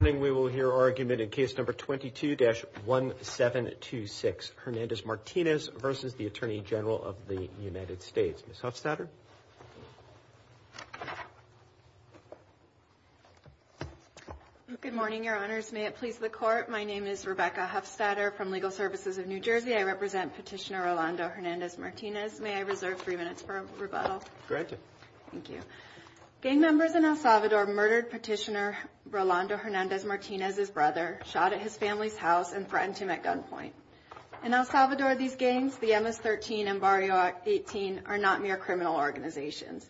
Good morning, we will hear argument in case number 22-1726, Hernandez-Martinez v. Atty. Gen. of the United States. Ms. Huffstadter? Good morning, your honors. May it please the court, my name is Rebecca Huffstadter from Legal Services of New Jersey. I represent Petitioner Rolando Hernandez-Martinez. May I reserve three minutes for rebuttal? Granted. Thank you. Gang members in El Salvador murdered Petitioner Rolando Hernandez-Martinez's brother, shot at his family's house, and threatened him at gunpoint. In El Salvador, these gangs, the MS-13 and Barrio 18, are not mere criminal organizations.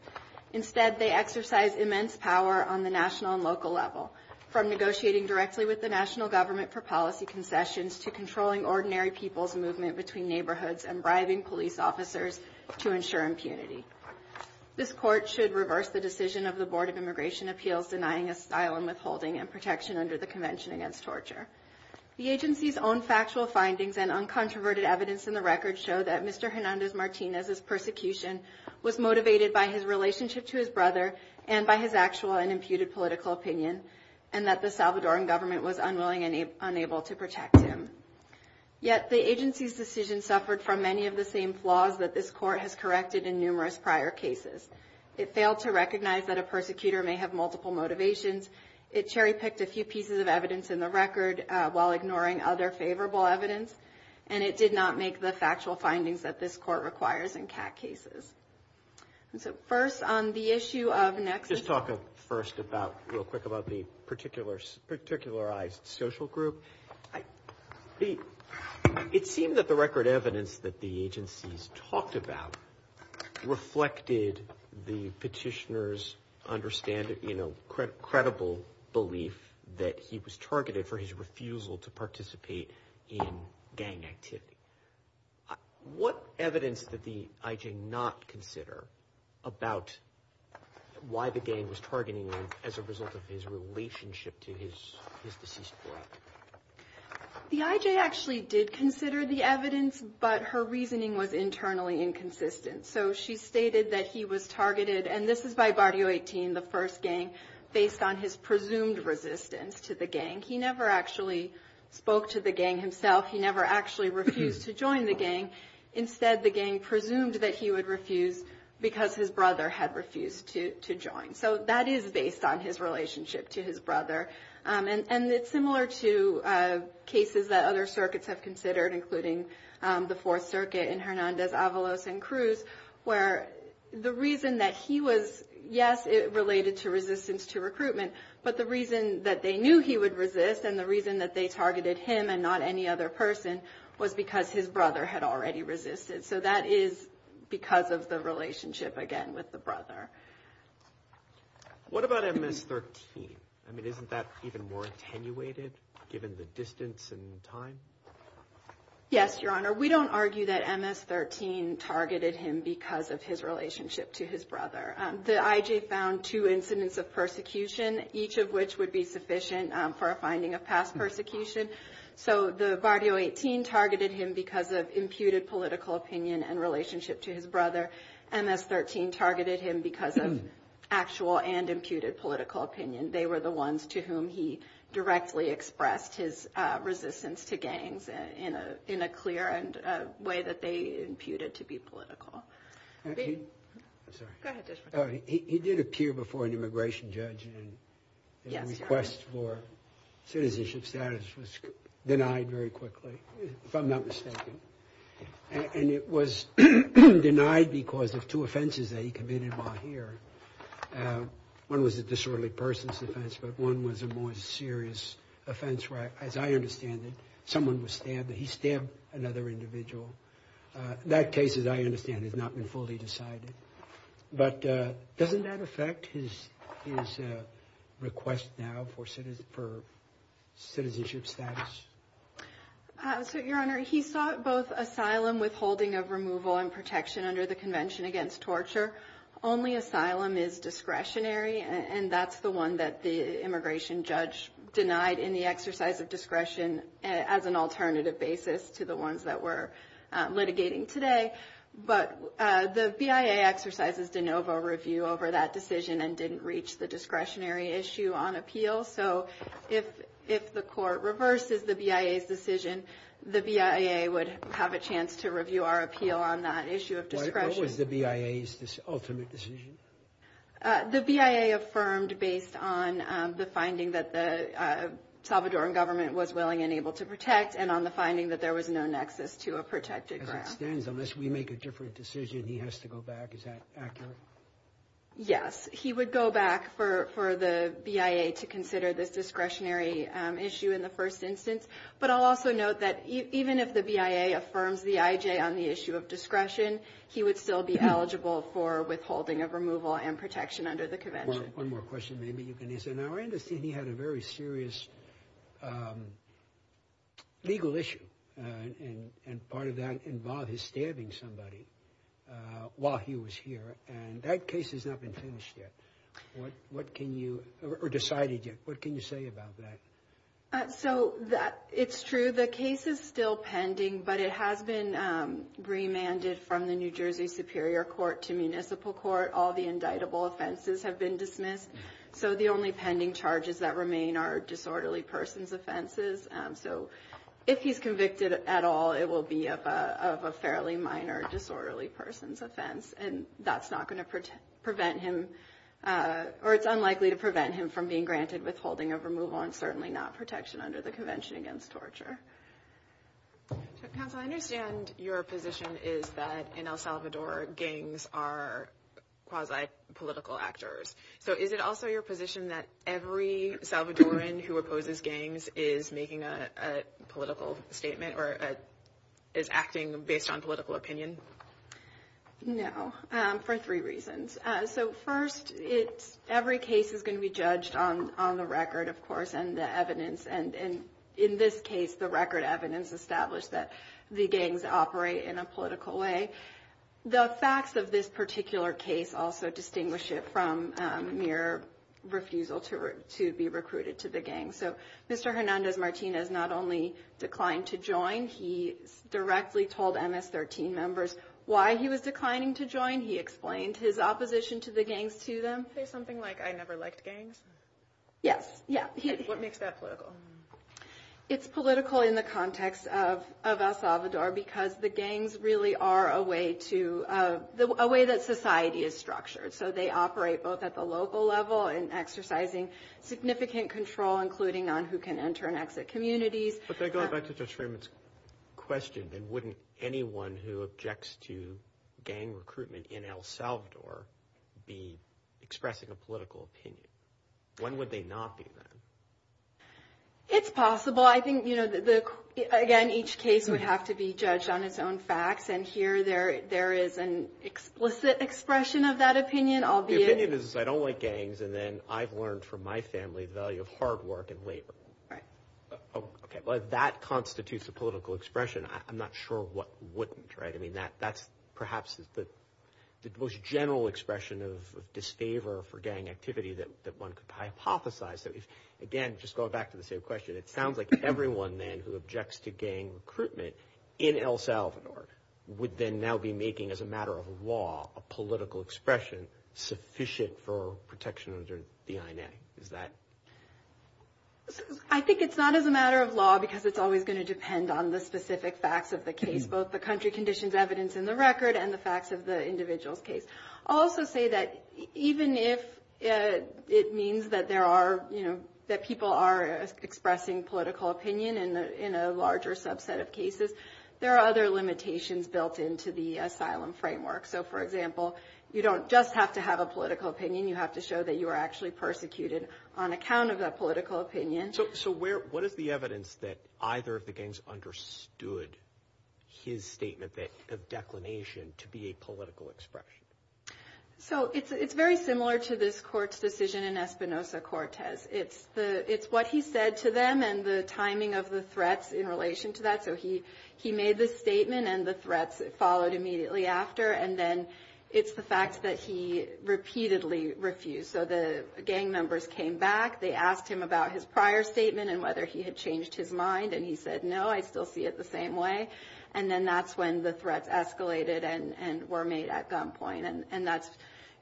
Instead, they exercise immense power on the national and local level, from negotiating directly with the national government for policy concessions to controlling ordinary people's movement between neighborhoods and bribing police officers to ensure impunity. This court should reverse the decision of the Board of Immigration Appeals denying asylum, withholding, and protection under the Convention Against Torture. The agency's own factual findings and uncontroverted evidence in the record show that Mr. Hernandez-Martinez's persecution was motivated by his relationship to his brother and by his actual and imputed political opinion, and that the Salvadoran government was unwilling and unable to protect him. Yet, the agency's decision suffered from many of the same flaws that this court has corrected in numerous prior cases. It failed to recognize that a persecutor may have multiple motivations. It cherry-picked a few pieces of evidence in the record while ignoring other favorable evidence. And it did not make the factual findings that this court requires in CAT cases. So first, on the issue of nexus... It seemed that the record evidence that the agencies talked about reflected the petitioner's understanding, you know, credible belief that he was targeted for his refusal to participate in gang activity. What evidence did the IJ not consider about why the gang was targeting him as a result of his relationship to his deceased brother? The IJ actually did consider the evidence, but her reasoning was internally inconsistent. So she stated that he was targeted, and this is by Barrio 18, the first gang, based on his presumed resistance to the gang. He never actually spoke to the gang himself. He never actually refused to join the gang. Instead, the gang presumed that he would refuse because his brother had refused to join. So that is based on his relationship to his brother. And it's similar to cases that other circuits have considered, including the Fourth Circuit in Hernandez, Avalos, and Cruz, where the reason that he was... Yes, it related to resistance to recruitment, but the reason that they knew he would resist and the reason that they targeted him and not any other person was because his brother had already resisted. So that is because of the relationship, again, with the brother. What about MS-13? I mean, isn't that even more attenuated, given the distance and time? Yes, Your Honor. We don't argue that MS-13 targeted him because of his relationship to his brother. The IJ found two incidents of persecution, each of which would be sufficient for a finding of past persecution. So the Bardio 18 targeted him because of imputed political opinion and relationship to his brother. MS-13 targeted him because of actual and imputed political opinion. They were the ones to whom he directly expressed his resistance to gangs in a clear way that they imputed to be political. He did appear before an immigration judge and a request for citizenship status was denied very quickly, if I'm not mistaken. And it was denied because of two offenses that he committed while here. One was a disorderly person's offense, but one was a more serious offense where, as I understand it, someone was stabbed. He stabbed another individual. That case, as I understand it, has not been fully decided. But doesn't that affect his request now for citizenship status? Your Honor, he sought both asylum, withholding of removal, and protection under the Convention Against Torture. Only asylum is discretionary, and that's the one that the immigration judge denied in the exercise of discretion as an alternative basis to the ones that we're litigating today. But the BIA exercises de novo review over that decision and didn't reach the discretionary issue on appeal. So if the court reverses the BIA's decision, the BIA would have a chance to review our appeal on that issue of discretion. What was the BIA's ultimate decision? The BIA affirmed based on the finding that the Salvadoran government was willing and able to protect and on the finding that there was no nexus to a protected ground. As it stands, unless we make a different decision, he has to go back. Is that accurate? Yes. He would go back for the BIA to consider this discretionary issue in the first instance. But I'll also note that even if the BIA affirms the IJ on the issue of discretion, he would still be eligible for withholding of removal and protection under the convention. One more question maybe you can answer. Now I understand he had a very serious legal issue, and part of that involved his stabbing somebody while he was here, and that case has not been finished yet or decided yet. What can you say about that? So it's true, the case is still pending, but it has been remanded from the New Jersey Superior Court to Municipal Court. All the indictable offenses have been dismissed, so the only pending charges that remain are disorderly person's offenses. So if he's convicted at all, it will be of a fairly minor disorderly person's offense, and that's not going to prevent him, or it's unlikely to prevent him from being granted withholding of removal and certainly not protection under the convention against torture. Counsel, I understand your position is that in El Salvador, gangs are quasi-political actors. So is it also your position that every Salvadoran who opposes gangs is making a political statement or is acting based on political opinion? No, for three reasons. So first, every case is going to be judged on the record, of course, and the evidence. And in this case, the record evidence established that the gangs operate in a political way. The facts of this particular case also distinguish it from mere refusal to be recruited to the gangs. So Mr. Hernandez-Martinez not only declined to join, he directly told MS-13 members why he was declining to join. He explained his opposition to the gangs to them. Is there something like, I never liked gangs? Yes. What makes that political? It's political in the context of El Salvador because the gangs really are a way to, a way that society is structured. So they operate both at the local level and exercising significant control, including on who can enter and exit communities. But then going back to Judge Freeman's question, then wouldn't anyone who objects to gang recruitment in El Salvador be expressing a political opinion? When would they not be then? It's possible. I think, you know, again, each case would have to be judged on its own facts. And here there is an explicit expression of that opinion, albeit... The opinion is, I don't like gangs, and then I've learned from my family the value of hard work and labor. Right. Okay. Well, if that constitutes a political expression, I'm not sure what wouldn't, right? I mean, that's perhaps the most general expression of disfavor for gang activity that one could hypothesize. Again, just going back to the same question, it sounds like everyone then who objects to gang recruitment in El Salvador would then now be making, as a matter of law, a political expression sufficient for protection under the INA. Is that... I think it's not as a matter of law because it's always going to depend on the specific facts of the case, both the country conditions evidence in the record and the facts of the individual's case. I'll also say that even if it means that there are, you know, that people are expressing political opinion in a larger subset of cases, there are other limitations built into the asylum framework. So, for example, you don't just have to have a political opinion, you have to show that you are actually persecuted on account of that political opinion. So, what is the evidence that either of the gangs understood his statement of declination to be a political expression? So, it's very similar to this court's decision in Espinosa-Cortez. It's what he said to them and the timing of the threats in relation to that. So, he made the statement and the threats followed immediately after, and then it's the fact that he repeatedly refused. So, the gang members came back, they asked him about his prior statement and whether he had changed his mind, and he said, no, I still see it the same way. And then that's when the threats escalated and were made at gunpoint. And that's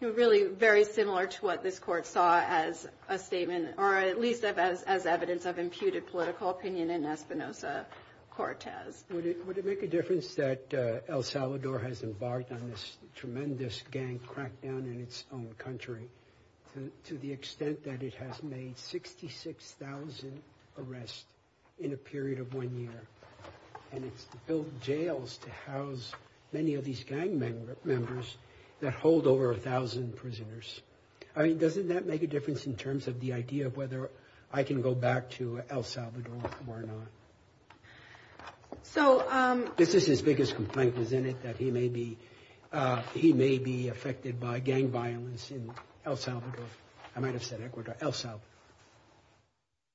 really very similar to what this court saw as a statement, or at least as evidence of imputed political opinion in Espinosa-Cortez. Would it make a difference that El Salvador has embarked on this tremendous gang crackdown in its own country to the extent that it has made 66,000 arrests in a period of one year? And it's built jails to house many of these gang members that hold over 1,000 prisoners. I mean, doesn't that make a difference in terms of the idea of whether I can go back to El Salvador or not? This is his biggest complaint, isn't it, that he may be affected by gang violence in El Salvador? I might have said Ecuador, El Salvador.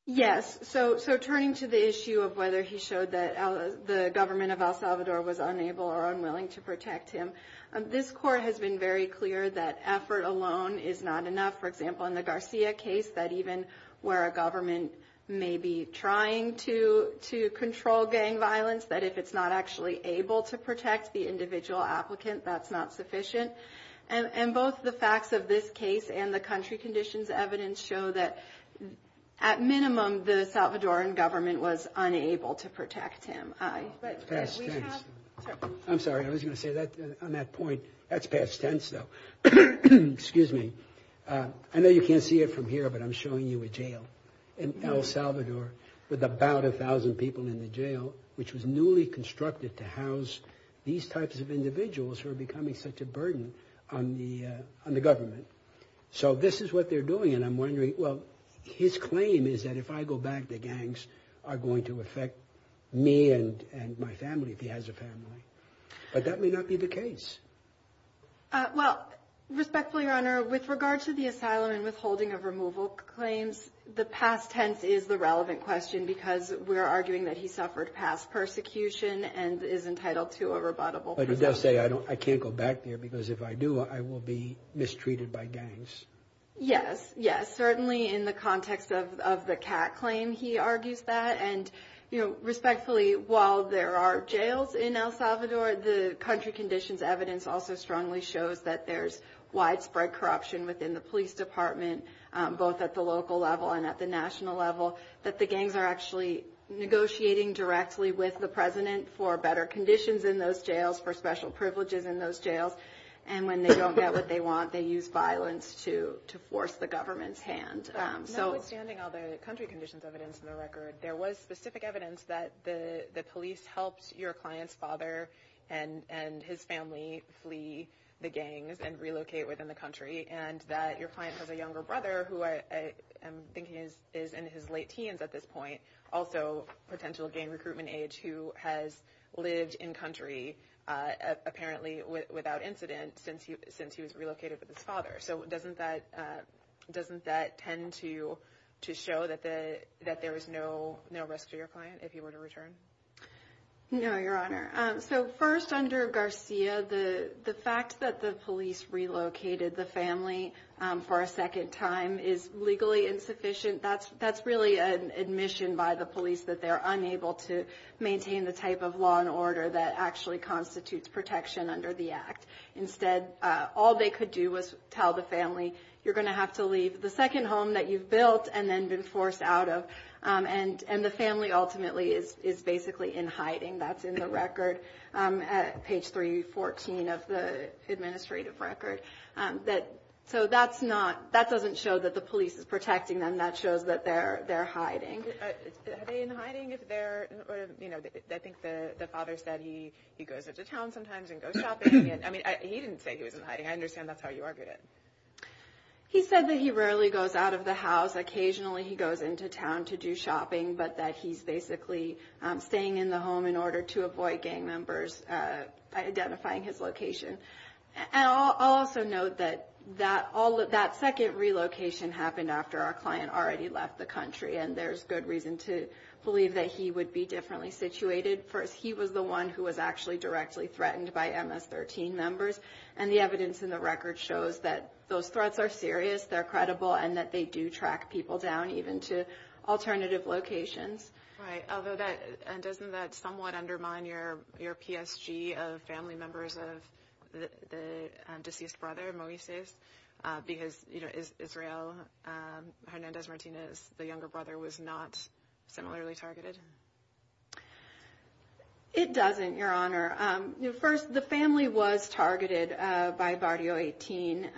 Yes. So, turning to the issue of whether he showed that the government of El Salvador was unable or unwilling to protect him, this court has been very clear that effort alone is not enough. For example, in the Garcia case, that even where a government may be trying to control gang violence, that if it's not actually able to protect the individual applicant, that's not sufficient. And both the facts of this case and the country conditions evidence show that, at minimum, the Salvadoran government was unable to protect him. I'm sorry. I was going to say that on that point. That's past tense, though. Excuse me. I know you can't see it from here, but I'm showing you a jail in El Salvador with about 1,000 people in the jail, which was newly constructed to house these types of individuals who are becoming such a burden on the government. So, this is what they're doing. And I'm wondering, well, his claim is that if I go back, the gangs are going to affect me and my family, if he has a family. But that may not be the case. Well, respectfully, Your Honor, with regard to the asylum and withholding of removal claims, the past tense is the relevant question because we're arguing that he suffered past persecution and is entitled to a rebuttable presumption. But he does say, I can't go back there because if I do, I will be mistreated by gangs. Yes, yes, certainly in the context of the cat claim, he argues that. And, you know, respectfully, while there are jails in El Salvador, the country conditions evidence also strongly shows that there's widespread corruption within the police department, both at the local level and at the national level, that the gangs are actually negotiating directly with the president for better conditions in those jails, for special privileges in those jails. And when they don't get what they want, they use violence to force the government's hand. But notwithstanding all the country conditions evidence in the record, there was specific evidence that the police helped your client's father and his family flee the gangs and relocate within the country, and that your client has a younger brother who I am thinking is in his late teens at this point, also potential gang recruitment age, who has lived in country apparently without incident since he was relocated with his father. So doesn't that tend to show that there was no risk to your client if he were to return? No, Your Honor. So first, under Garcia, the fact that the police relocated the family for a second time is legally insufficient. That's really an admission by the police that they're unable to maintain the type of law and order that actually constitutes protection under the act. Instead, all they could do was tell the family, you're going to have to leave the second home that you've built and then been forced out of. And the family ultimately is basically in hiding. That's in the record, page 314 of the administrative record. So that doesn't show that the police is protecting them. That shows that they're hiding. Are they in hiding? I think the father said he goes into town sometimes and goes shopping. He didn't say he was in hiding. I understand that's how you argued it. He said that he rarely goes out of the house. Occasionally he goes into town to do shopping, but that he's basically staying in the home in order to avoid gang members identifying his location. And I'll also note that that second relocation happened after our client already left the country, and there's good reason to believe that he would be differently situated. First, he was the one who was actually directly threatened by MS-13 members, and the evidence in the record shows that those threats are serious, they're credible, and that they do track people down even to alternative locations. Right. Doesn't that somewhat undermine your PSG of family members of the deceased brother, Moises? Because Israel Hernandez Martinez, the younger brother, was not similarly targeted? It doesn't, Your Honor. First, the family was targeted by Barrio 18.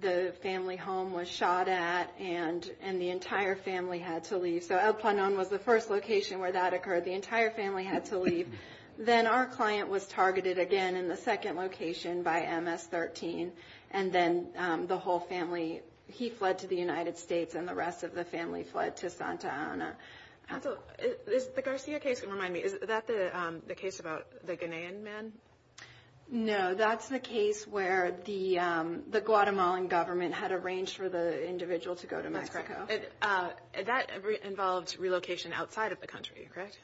The family home was shot at, and the entire family had to leave. So El Planon was the first location where that occurred. The entire family had to leave. Then our client was targeted again in the second location by MS-13, and then the whole family, he fled to the United States and the rest of the family fled to Santa Ana. Also, the Garcia case, remind me, is that the case about the Ghanaian man? No, that's the case where the Guatemalan government had arranged for the individual to go to Mexico. That's correct. That involved relocation outside of the country, correct?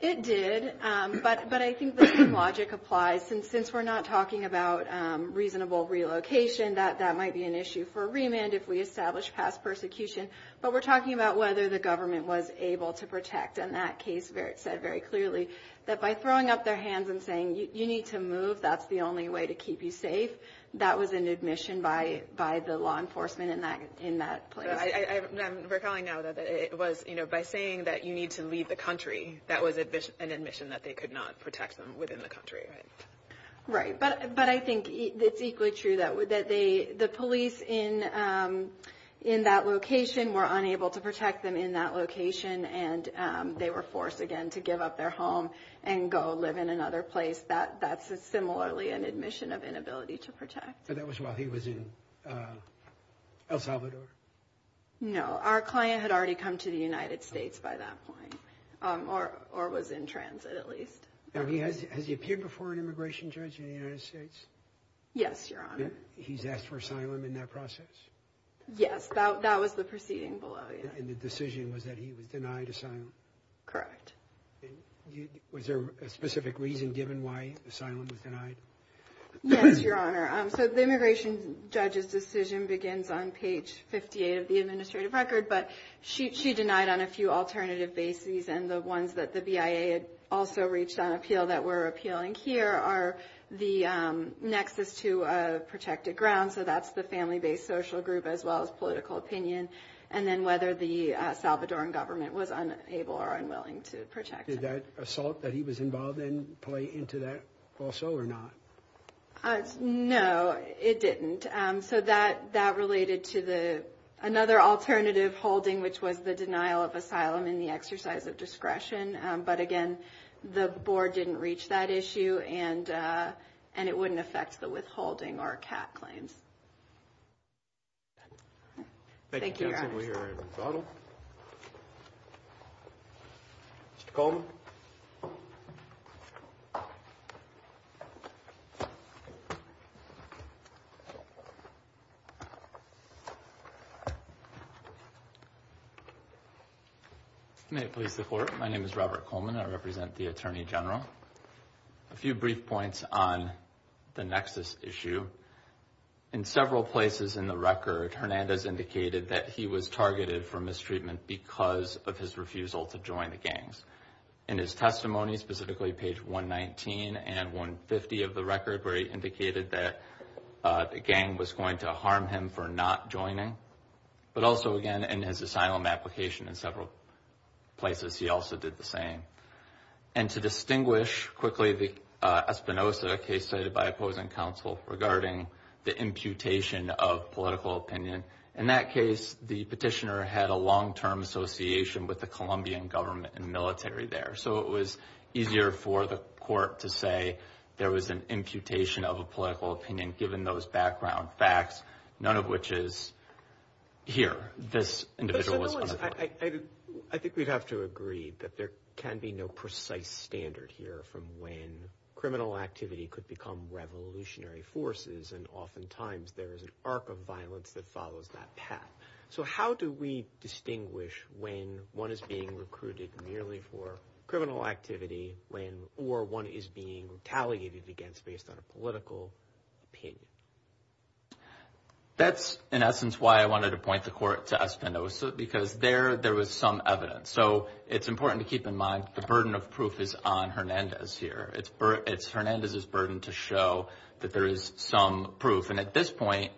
It did, but I think the same logic applies. Since we're not talking about reasonable relocation, that might be an issue for remand if we establish past persecution, but we're talking about whether the government was able to protect. And that case said very clearly that by throwing up their hands and saying, you need to move, that's the only way to keep you safe, that was an admission by the law enforcement in that place. I'm recalling now that it was by saying that you need to leave the country, that was an admission that they could not protect them within the country, right? Right, but I think it's equally true that the police in that location were unable to protect them in that location, and they were forced again to give up their home and go live in another place. That's similarly an admission of inability to protect. That was while he was in El Salvador? No, our client had already come to the United States by that point, or was in transit at least. Has he appeared before an immigration judge in the United States? Yes, Your Honor. He's asked for asylum in that process? Yes, that was the proceeding below, yes. And the decision was that he was denied asylum? Correct. Was there a specific reason given why asylum was denied? Yes, Your Honor. So the immigration judge's decision begins on page 58 of the administrative record, but she denied on a few alternative bases, and the ones that the BIA had also reached on appeal that we're appealing here are the nexus to protected grounds, so that's the family-based social group as well as political opinion, and then whether the Salvadoran government was unable or unwilling to protect him. Did that assault that he was involved in play into that also or not? No, it didn't. So that related to another alternative holding, which was the denial of asylum in the exercise of discretion. But again, the board didn't reach that issue, and it wouldn't affect the withholding or CAT claims. Thank you, Your Honor. Thank you, counsel. We are in rebuttal. Mr. Coleman. May it please the Court. My name is Robert Coleman. I represent the Attorney General. A few brief points on the nexus issue. In several places in the record, Hernandez indicated that he was targeted for mistreatment because of his refusal to join the gangs. In his testimony, specifically page 119 and 150 of the record, where he indicated that the gang was going to harm him for not joining, but also, again, in his asylum application in several places, he also did the same. And to distinguish quickly, the Espinoza case cited by opposing counsel regarding the imputation of political opinion. In that case, the petitioner had a long-term association with the Colombian government and military there. So it was easier for the court to say there was an imputation of a political opinion, given those background facts, none of which is here. This individual was on the floor. I think we'd have to agree that there can be no precise standard here from when criminal activity could become revolutionary forces, and oftentimes there is an arc of violence that follows that path. So how do we distinguish when one is being recruited merely for criminal activity or one is being retaliated against based on a political opinion? That's, in essence, why I wanted to point the court to Espinoza, because there was some evidence. So it's important to keep in mind the burden of proof is on Hernandez here. It's Hernandez's burden to show that there is some proof. And at this point,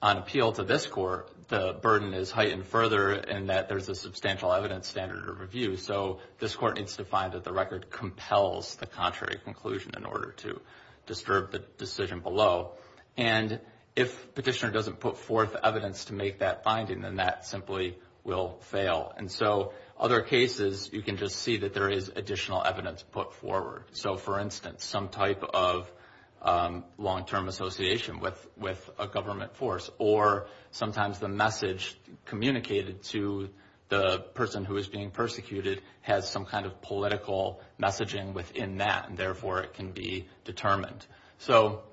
on appeal to this court, the burden is heightened further in that there's a substantial evidence standard of review. So this court needs to find that the record compels the contrary conclusion in order to disturb the decision below. And if petitioner doesn't put forth evidence to make that finding, then that simply will fail. And so other cases, you can just see that there is additional evidence put forward. So, for instance, some type of long-term association with a government force, or sometimes the message communicated to the person who is being persecuted has some kind of political messaging within that, and therefore it can be determined. So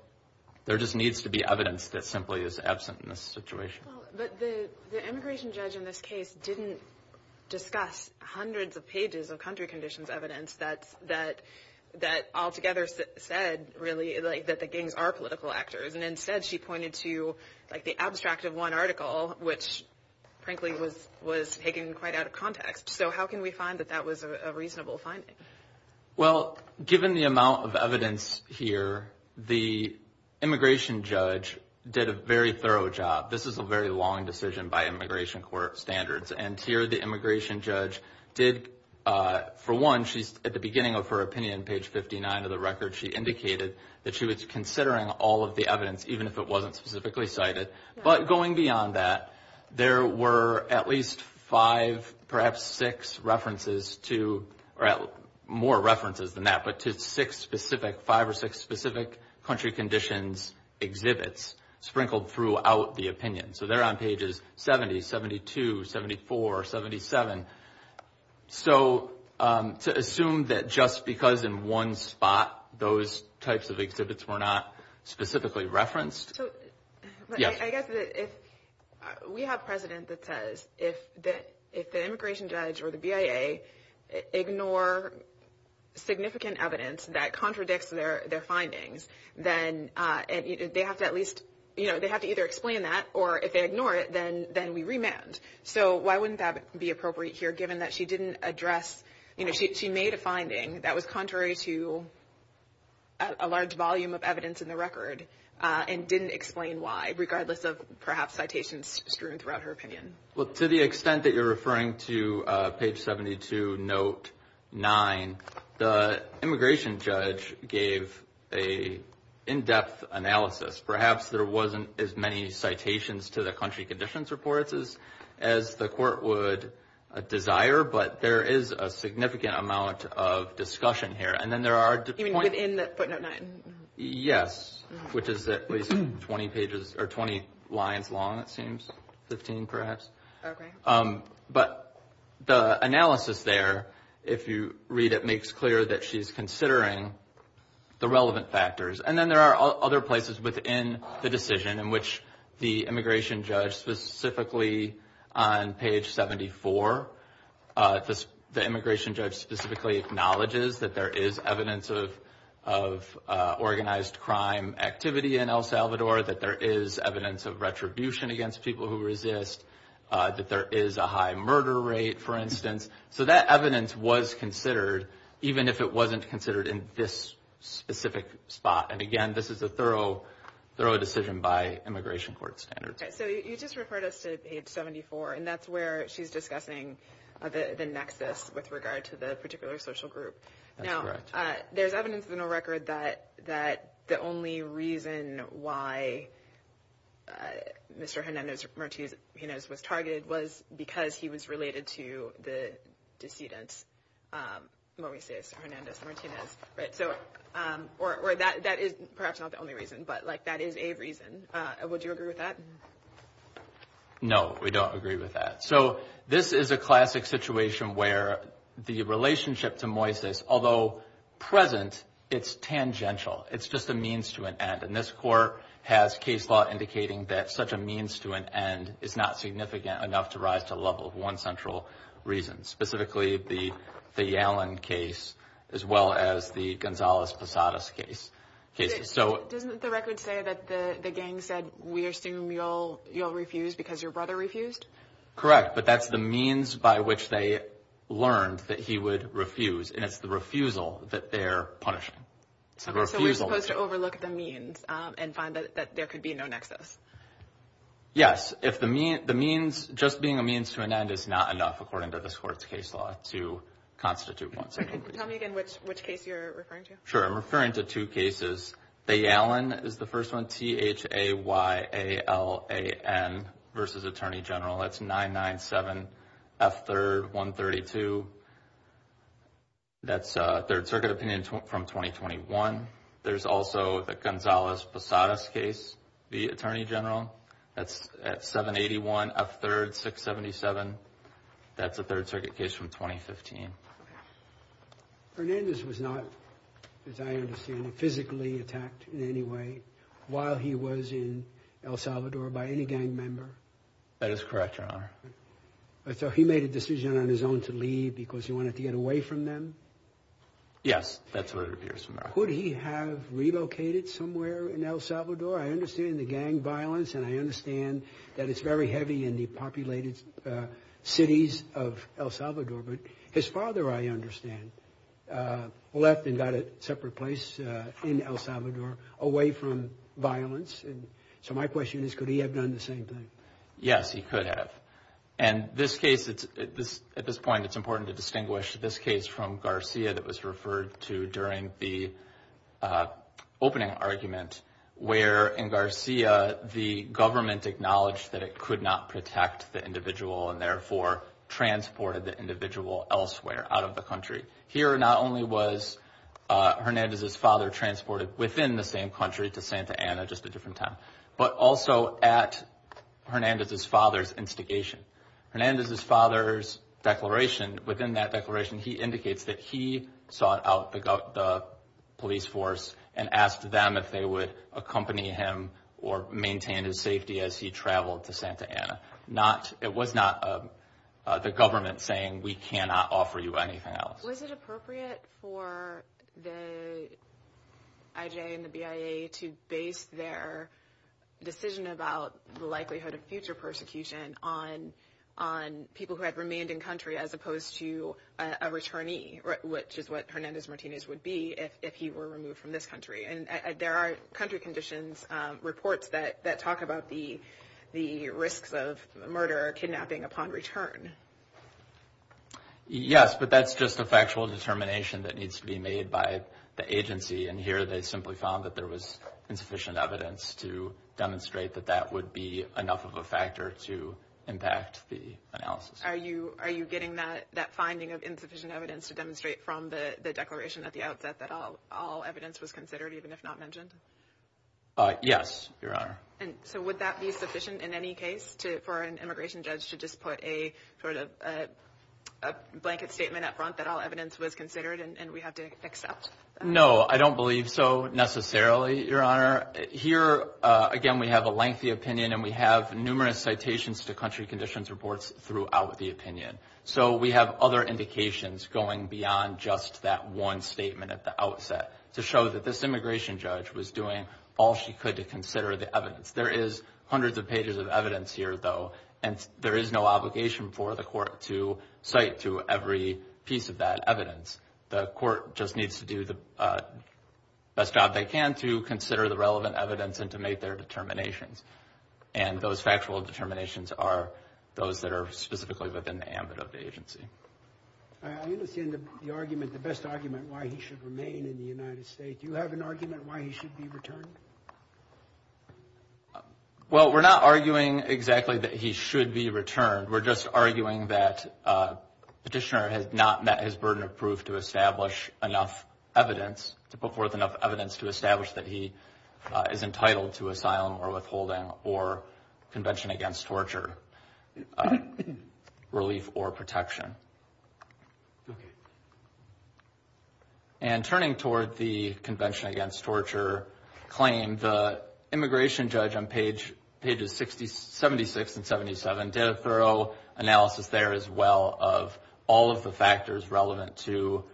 there just needs to be evidence that simply is absent in this situation. But the immigration judge in this case didn't discuss hundreds of pages of country conditions evidence that altogether said, really, that the gangs are political actors. And instead she pointed to, like, the abstract of one article, which, frankly, was taken quite out of context. So how can we find that that was a reasonable finding? Well, given the amount of evidence here, the immigration judge did a very thorough job. This is a very long decision by immigration court standards. And here the immigration judge did, for one, at the beginning of her opinion, page 59 of the record, she indicated that she was considering all of the evidence, even if it wasn't specifically cited. But going beyond that, there were at least five, perhaps six references to, or more references than that, but to six specific, five or six specific country conditions exhibits sprinkled throughout the opinion. So they're on pages 70, 72, 74, 77. So to assume that just because in one spot those types of exhibits were not specifically referenced. So I guess if we have a president that says if the immigration judge or the BIA ignore significant evidence that contradicts their findings, then they have to at least, you know, they have to either explain that, or if they ignore it, then we remand. So why wouldn't that be appropriate here, given that she didn't address, you know, she made a finding that was contrary to a large volume of evidence in the record, and didn't explain why, regardless of perhaps citations strewn throughout her opinion. Well, to the extent that you're referring to page 72, note 9, the immigration judge gave an in-depth analysis. Perhaps there wasn't as many citations to the country conditions reports as the court would desire, but there is a significant amount of discussion here. And then there are. Even within the footnote 9? Yes, which is at least 20 pages or 20 lines long, it seems, 15 perhaps. Okay. But the analysis there, if you read it, makes clear that she's considering the relevant factors. And then there are other places within the decision in which the immigration judge, specifically on page 74, the immigration judge specifically acknowledges that there is evidence of organized crime activity in El Salvador, that there is evidence of retribution against people who resist, that there is a high murder rate, for instance. So that evidence was considered, even if it wasn't considered in this specific spot. And, again, this is a thorough decision by immigration court standards. Okay. So you just referred us to page 74, and that's where she's discussing the nexus with regard to the particular social group. That's correct. There's evidence in the record that the only reason why Mr. Hernandez-Martinez was targeted was because he was related to the decedent, Moises Hernandez-Martinez. Or that is perhaps not the only reason, but, like, that is a reason. Would you agree with that? No, we don't agree with that. So this is a classic situation where the relationship to Moises, although present, it's tangential. It's just a means to an end. And this court has case law indicating that such a means to an end is not significant enough to rise to the level of one central reason, specifically the Yallon case as well as the Gonzalez-Posadas case. Doesn't the record say that the gang said, we assume you'll refuse because your brother refused? Correct, but that's the means by which they learned that he would refuse, and it's the refusal that they're punishing. It's the refusal. So we're supposed to overlook the means and find that there could be no nexus. Yes. If the means, just being a means to an end is not enough, according to this court's case law, to constitute one central reason. Tell me again which case you're referring to. Sure. I'm referring to two cases. The Yallon is the first one, T-H-A-Y-A-L-A-N versus Attorney General. That's 997 F3rd 132. That's a Third Circuit opinion from 2021. There's also the Gonzalez-Posadas case v. Attorney General. That's 781 F3rd 677. That's a Third Circuit case from 2015. Hernandez was not, as I understand it, physically attacked in any way while he was in El Salvador by any gang member. That is correct, Your Honor. So he made a decision on his own to leave because he wanted to get away from them? Yes, that's what it appears to be. Could he have relocated somewhere in El Salvador? I understand the gang violence, and I understand that it's very heavy in the populated cities of El Salvador. But his father, I understand, left and got a separate place in El Salvador away from violence. So my question is, could he have done the same thing? Yes, he could have. And this case, at this point, it's important to distinguish this case from Garcia that was referred to during the opening argument, where in Garcia, the government acknowledged that it could not protect the individual and therefore transported the individual elsewhere out of the country. Here, not only was Hernandez's father transported within the same country to Santa Ana, just a different time, but also at Hernandez's father's instigation. Hernandez's father's declaration, within that declaration, he indicates that he sought out the police force and asked them if they would accompany him or maintain his safety as he traveled to Santa Ana. It was not the government saying, we cannot offer you anything else. Was it appropriate for the IJ and the BIA to base their decision about the likelihood of future persecution on people who had remained in country as opposed to a returnee, which is what Hernandez-Martinez would be if he were removed from this country? And there are country conditions reports that talk about the risks of murder or kidnapping upon return. Yes, but that's just a factual determination that needs to be made by the agency. And here they simply found that there was insufficient evidence to demonstrate that that would be enough of a factor to impact the analysis. Are you getting that finding of insufficient evidence to demonstrate from the declaration at the outset that all evidence was considered, even if not mentioned? Yes, Your Honor. So would that be sufficient in any case for an immigration judge to just put a blanket statement up front that all evidence was considered and we have to accept that? No, I don't believe so necessarily, Your Honor. Here, again, we have a lengthy opinion and we have numerous citations to country conditions reports throughout the opinion. So we have other indications going beyond just that one statement at the outset to show that this immigration judge was doing all she could to consider the evidence. There is hundreds of pages of evidence here, though, and there is no obligation for the court to cite to every piece of that evidence. The court just needs to do the best job they can to consider the relevant evidence and to make their determinations. And those factual determinations are those that are specifically within the ambit of the agency. I understand the argument, the best argument, why he should remain in the United States. Do you have an argument why he should be returned? Well, we're not arguing exactly that he should be returned. We're just arguing that Petitioner has not met his burden of proof to establish enough evidence, to put forth enough evidence to establish that he is entitled to asylum or withholding or Convention Against Torture relief or protection. And turning toward the Convention Against Torture claim, the immigration judge on pages 76 and 77 did a thorough analysis there as well of all of the factors relevant to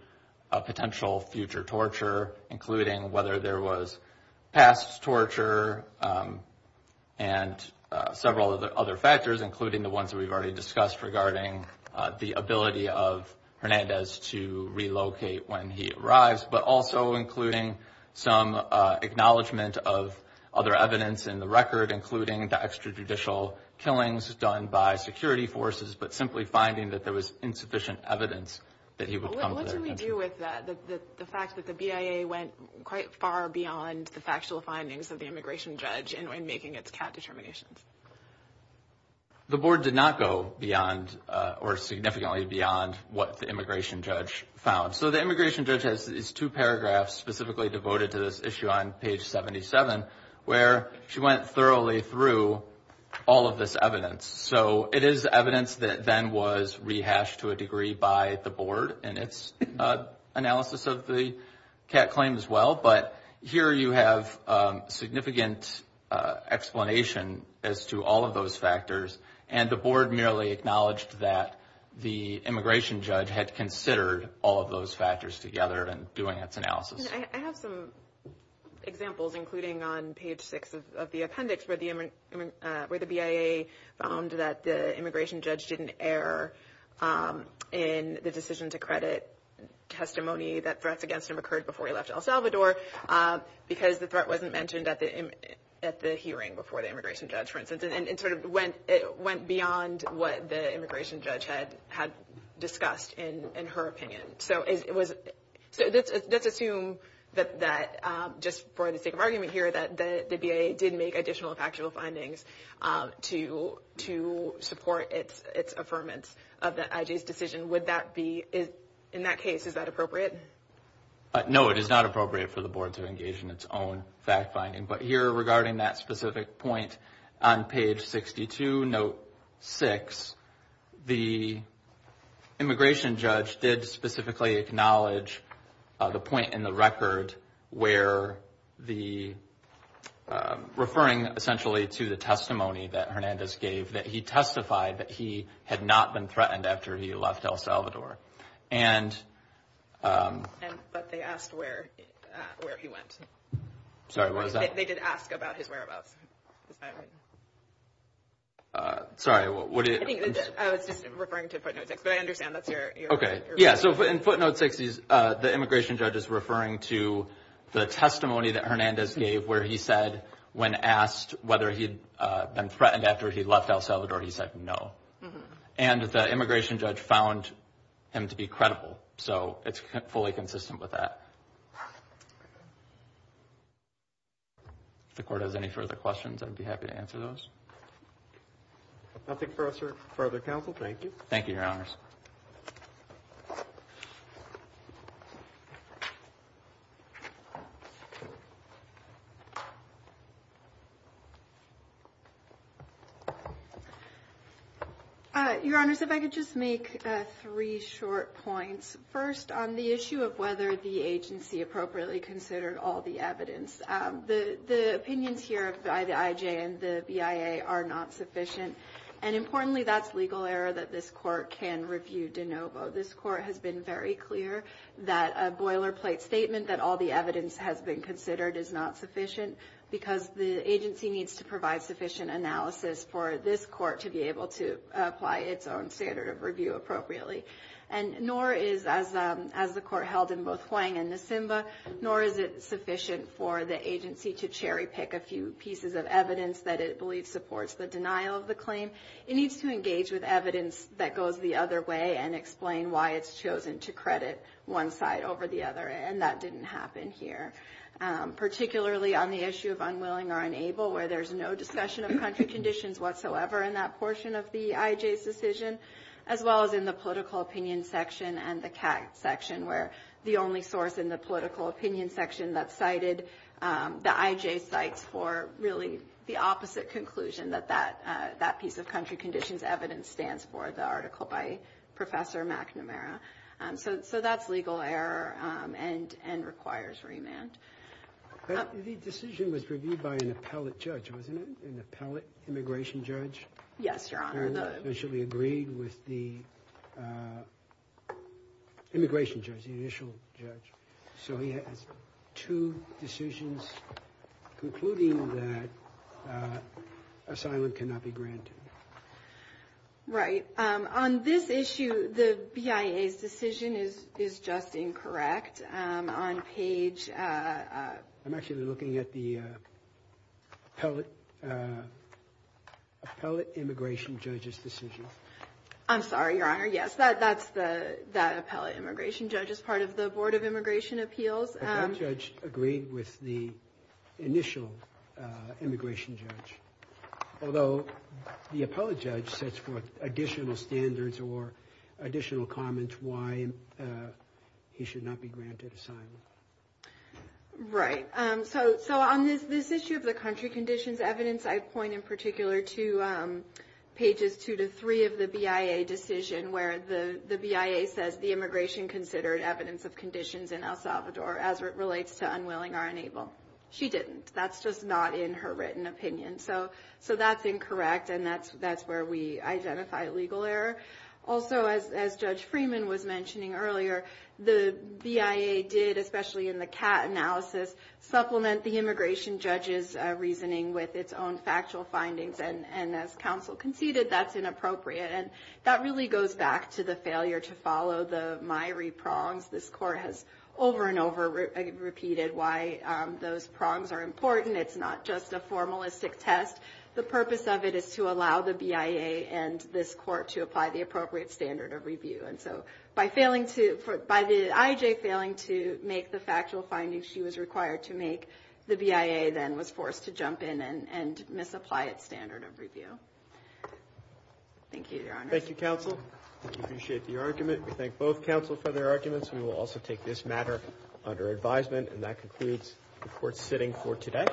potential future torture, including whether there was past torture and several other factors, including the ones that we've already discussed regarding the ability of Hernandez to relocate when he arrives, but also including some acknowledgment of other evidence in the record, including the extrajudicial killings done by security forces, but simply finding that there was insufficient evidence that he would come to their attention. What do we do with the fact that the BIA went quite far beyond the factual findings of the immigration judge in making its CAT determinations? The board did not go beyond or significantly beyond what the immigration judge found. So the immigration judge has two paragraphs specifically devoted to this issue on page 77, where she went thoroughly through all of this evidence. So it is evidence that then was rehashed to a degree by the board in its analysis of the CAT claim as well, but here you have significant explanation as to all of those factors, and the board merely acknowledged that the immigration judge had considered all of those factors together in doing its analysis. I have some examples, including on page 6 of the appendix, where the BIA found that the immigration judge didn't err in the decision to credit testimony that threats against him occurred before he left El Salvador, because the threat wasn't mentioned at the hearing before the immigration judge, for instance, and it sort of went beyond what the immigration judge had discussed in her opinion. So let's assume that just for the sake of argument here, that the BIA did make additional factual findings to support its affirmance of the IJ's decision. Would that be, in that case, is that appropriate? No, it is not appropriate for the board to engage in its own fact finding, but here regarding that specific point on page 62, note 6, the immigration judge did specifically acknowledge the point in the record where the, referring essentially to the testimony that Hernandez gave, that he testified that he had not been threatened after he left El Salvador. But they asked where he went. Sorry, what was that? They did ask about his whereabouts. Sorry. I was just referring to footnote 6, but I understand that's your point. Okay. Yeah, so in footnote 6, the immigration judge is referring to the testimony that Hernandez gave where he said when asked whether he had been threatened after he left El Salvador, he said no. And the immigration judge found him to be credible, so it's fully consistent with that. If the court has any further questions, I'd be happy to answer those. If nothing further, counsel, thank you. Thank you, Your Honors. Your Honors, if I could just make three short points. First, on the issue of whether the agency appropriately considered all the evidence, the opinions here of the IJ and the BIA are not sufficient. And importantly, that's legal error that this court can review de novo. This court has been very clear that a boilerplate statement that all the evidence has been considered is not sufficient because the agency needs to provide sufficient analysis for this court to be able to apply its own standard of review appropriately. And nor is, as the court held in both Huang and Nisimba, nor is it sufficient for the agency to cherry pick a few pieces of evidence that it believes supports the denial of the claim. It needs to engage with evidence that goes the other way and explain why it's chosen to credit one side over the other, and that didn't happen here. Particularly on the issue of unwilling or unable, where there's no discussion of country conditions whatsoever in that portion of the IJ's decision, as well as in the political opinion section and the CAG section, where the only source in the political opinion section that cited the IJ's sites for really the opposite conclusion, that that piece of country conditions evidence stands for the article by Professor McNamara. So that's legal error and requires remand. The decision was reviewed by an appellate judge, wasn't it? An appellate immigration judge? Yes, Your Honor. And she agreed with the immigration judge, the initial judge. So he has two decisions concluding that asylum cannot be granted. Right. On this issue, the BIA's decision is just incorrect. On page... I'm actually looking at the appellate immigration judge's decision. I'm sorry, Your Honor. Yes, that appellate immigration judge is part of the Board of Immigration Appeals. But that judge agreed with the initial immigration judge, although the appellate judge sets forth additional standards or additional comments why he should not be granted asylum. Right. So on this issue of the country conditions evidence, I point in particular to pages two to three of the BIA decision, where the BIA says the immigration considered evidence of conditions in El Salvador as it relates to unwilling or unable. She didn't. That's just not in her written opinion. So that's incorrect, and that's where we identify legal error. Also, as Judge Freeman was mentioning earlier, the BIA did, especially in the CAT analysis, supplement the immigration judge's reasoning with its own factual findings. And as counsel conceded, that's inappropriate. And that really goes back to the failure to follow the MIRI prongs. This Court has over and over repeated why those prongs are important. It's not just a formalistic test. The purpose of it is to allow the BIA and this Court to apply the appropriate standard of review. And so by the IJ failing to make the factual findings she was required to make, the BIA then was forced to jump in and misapply its standard of review. Thank you, Your Honor. Thank you, counsel. We appreciate the argument. We thank both counsel for their arguments. We will also take this matter under advisement. And that concludes the Court's sitting for today. Thank you. Thank you.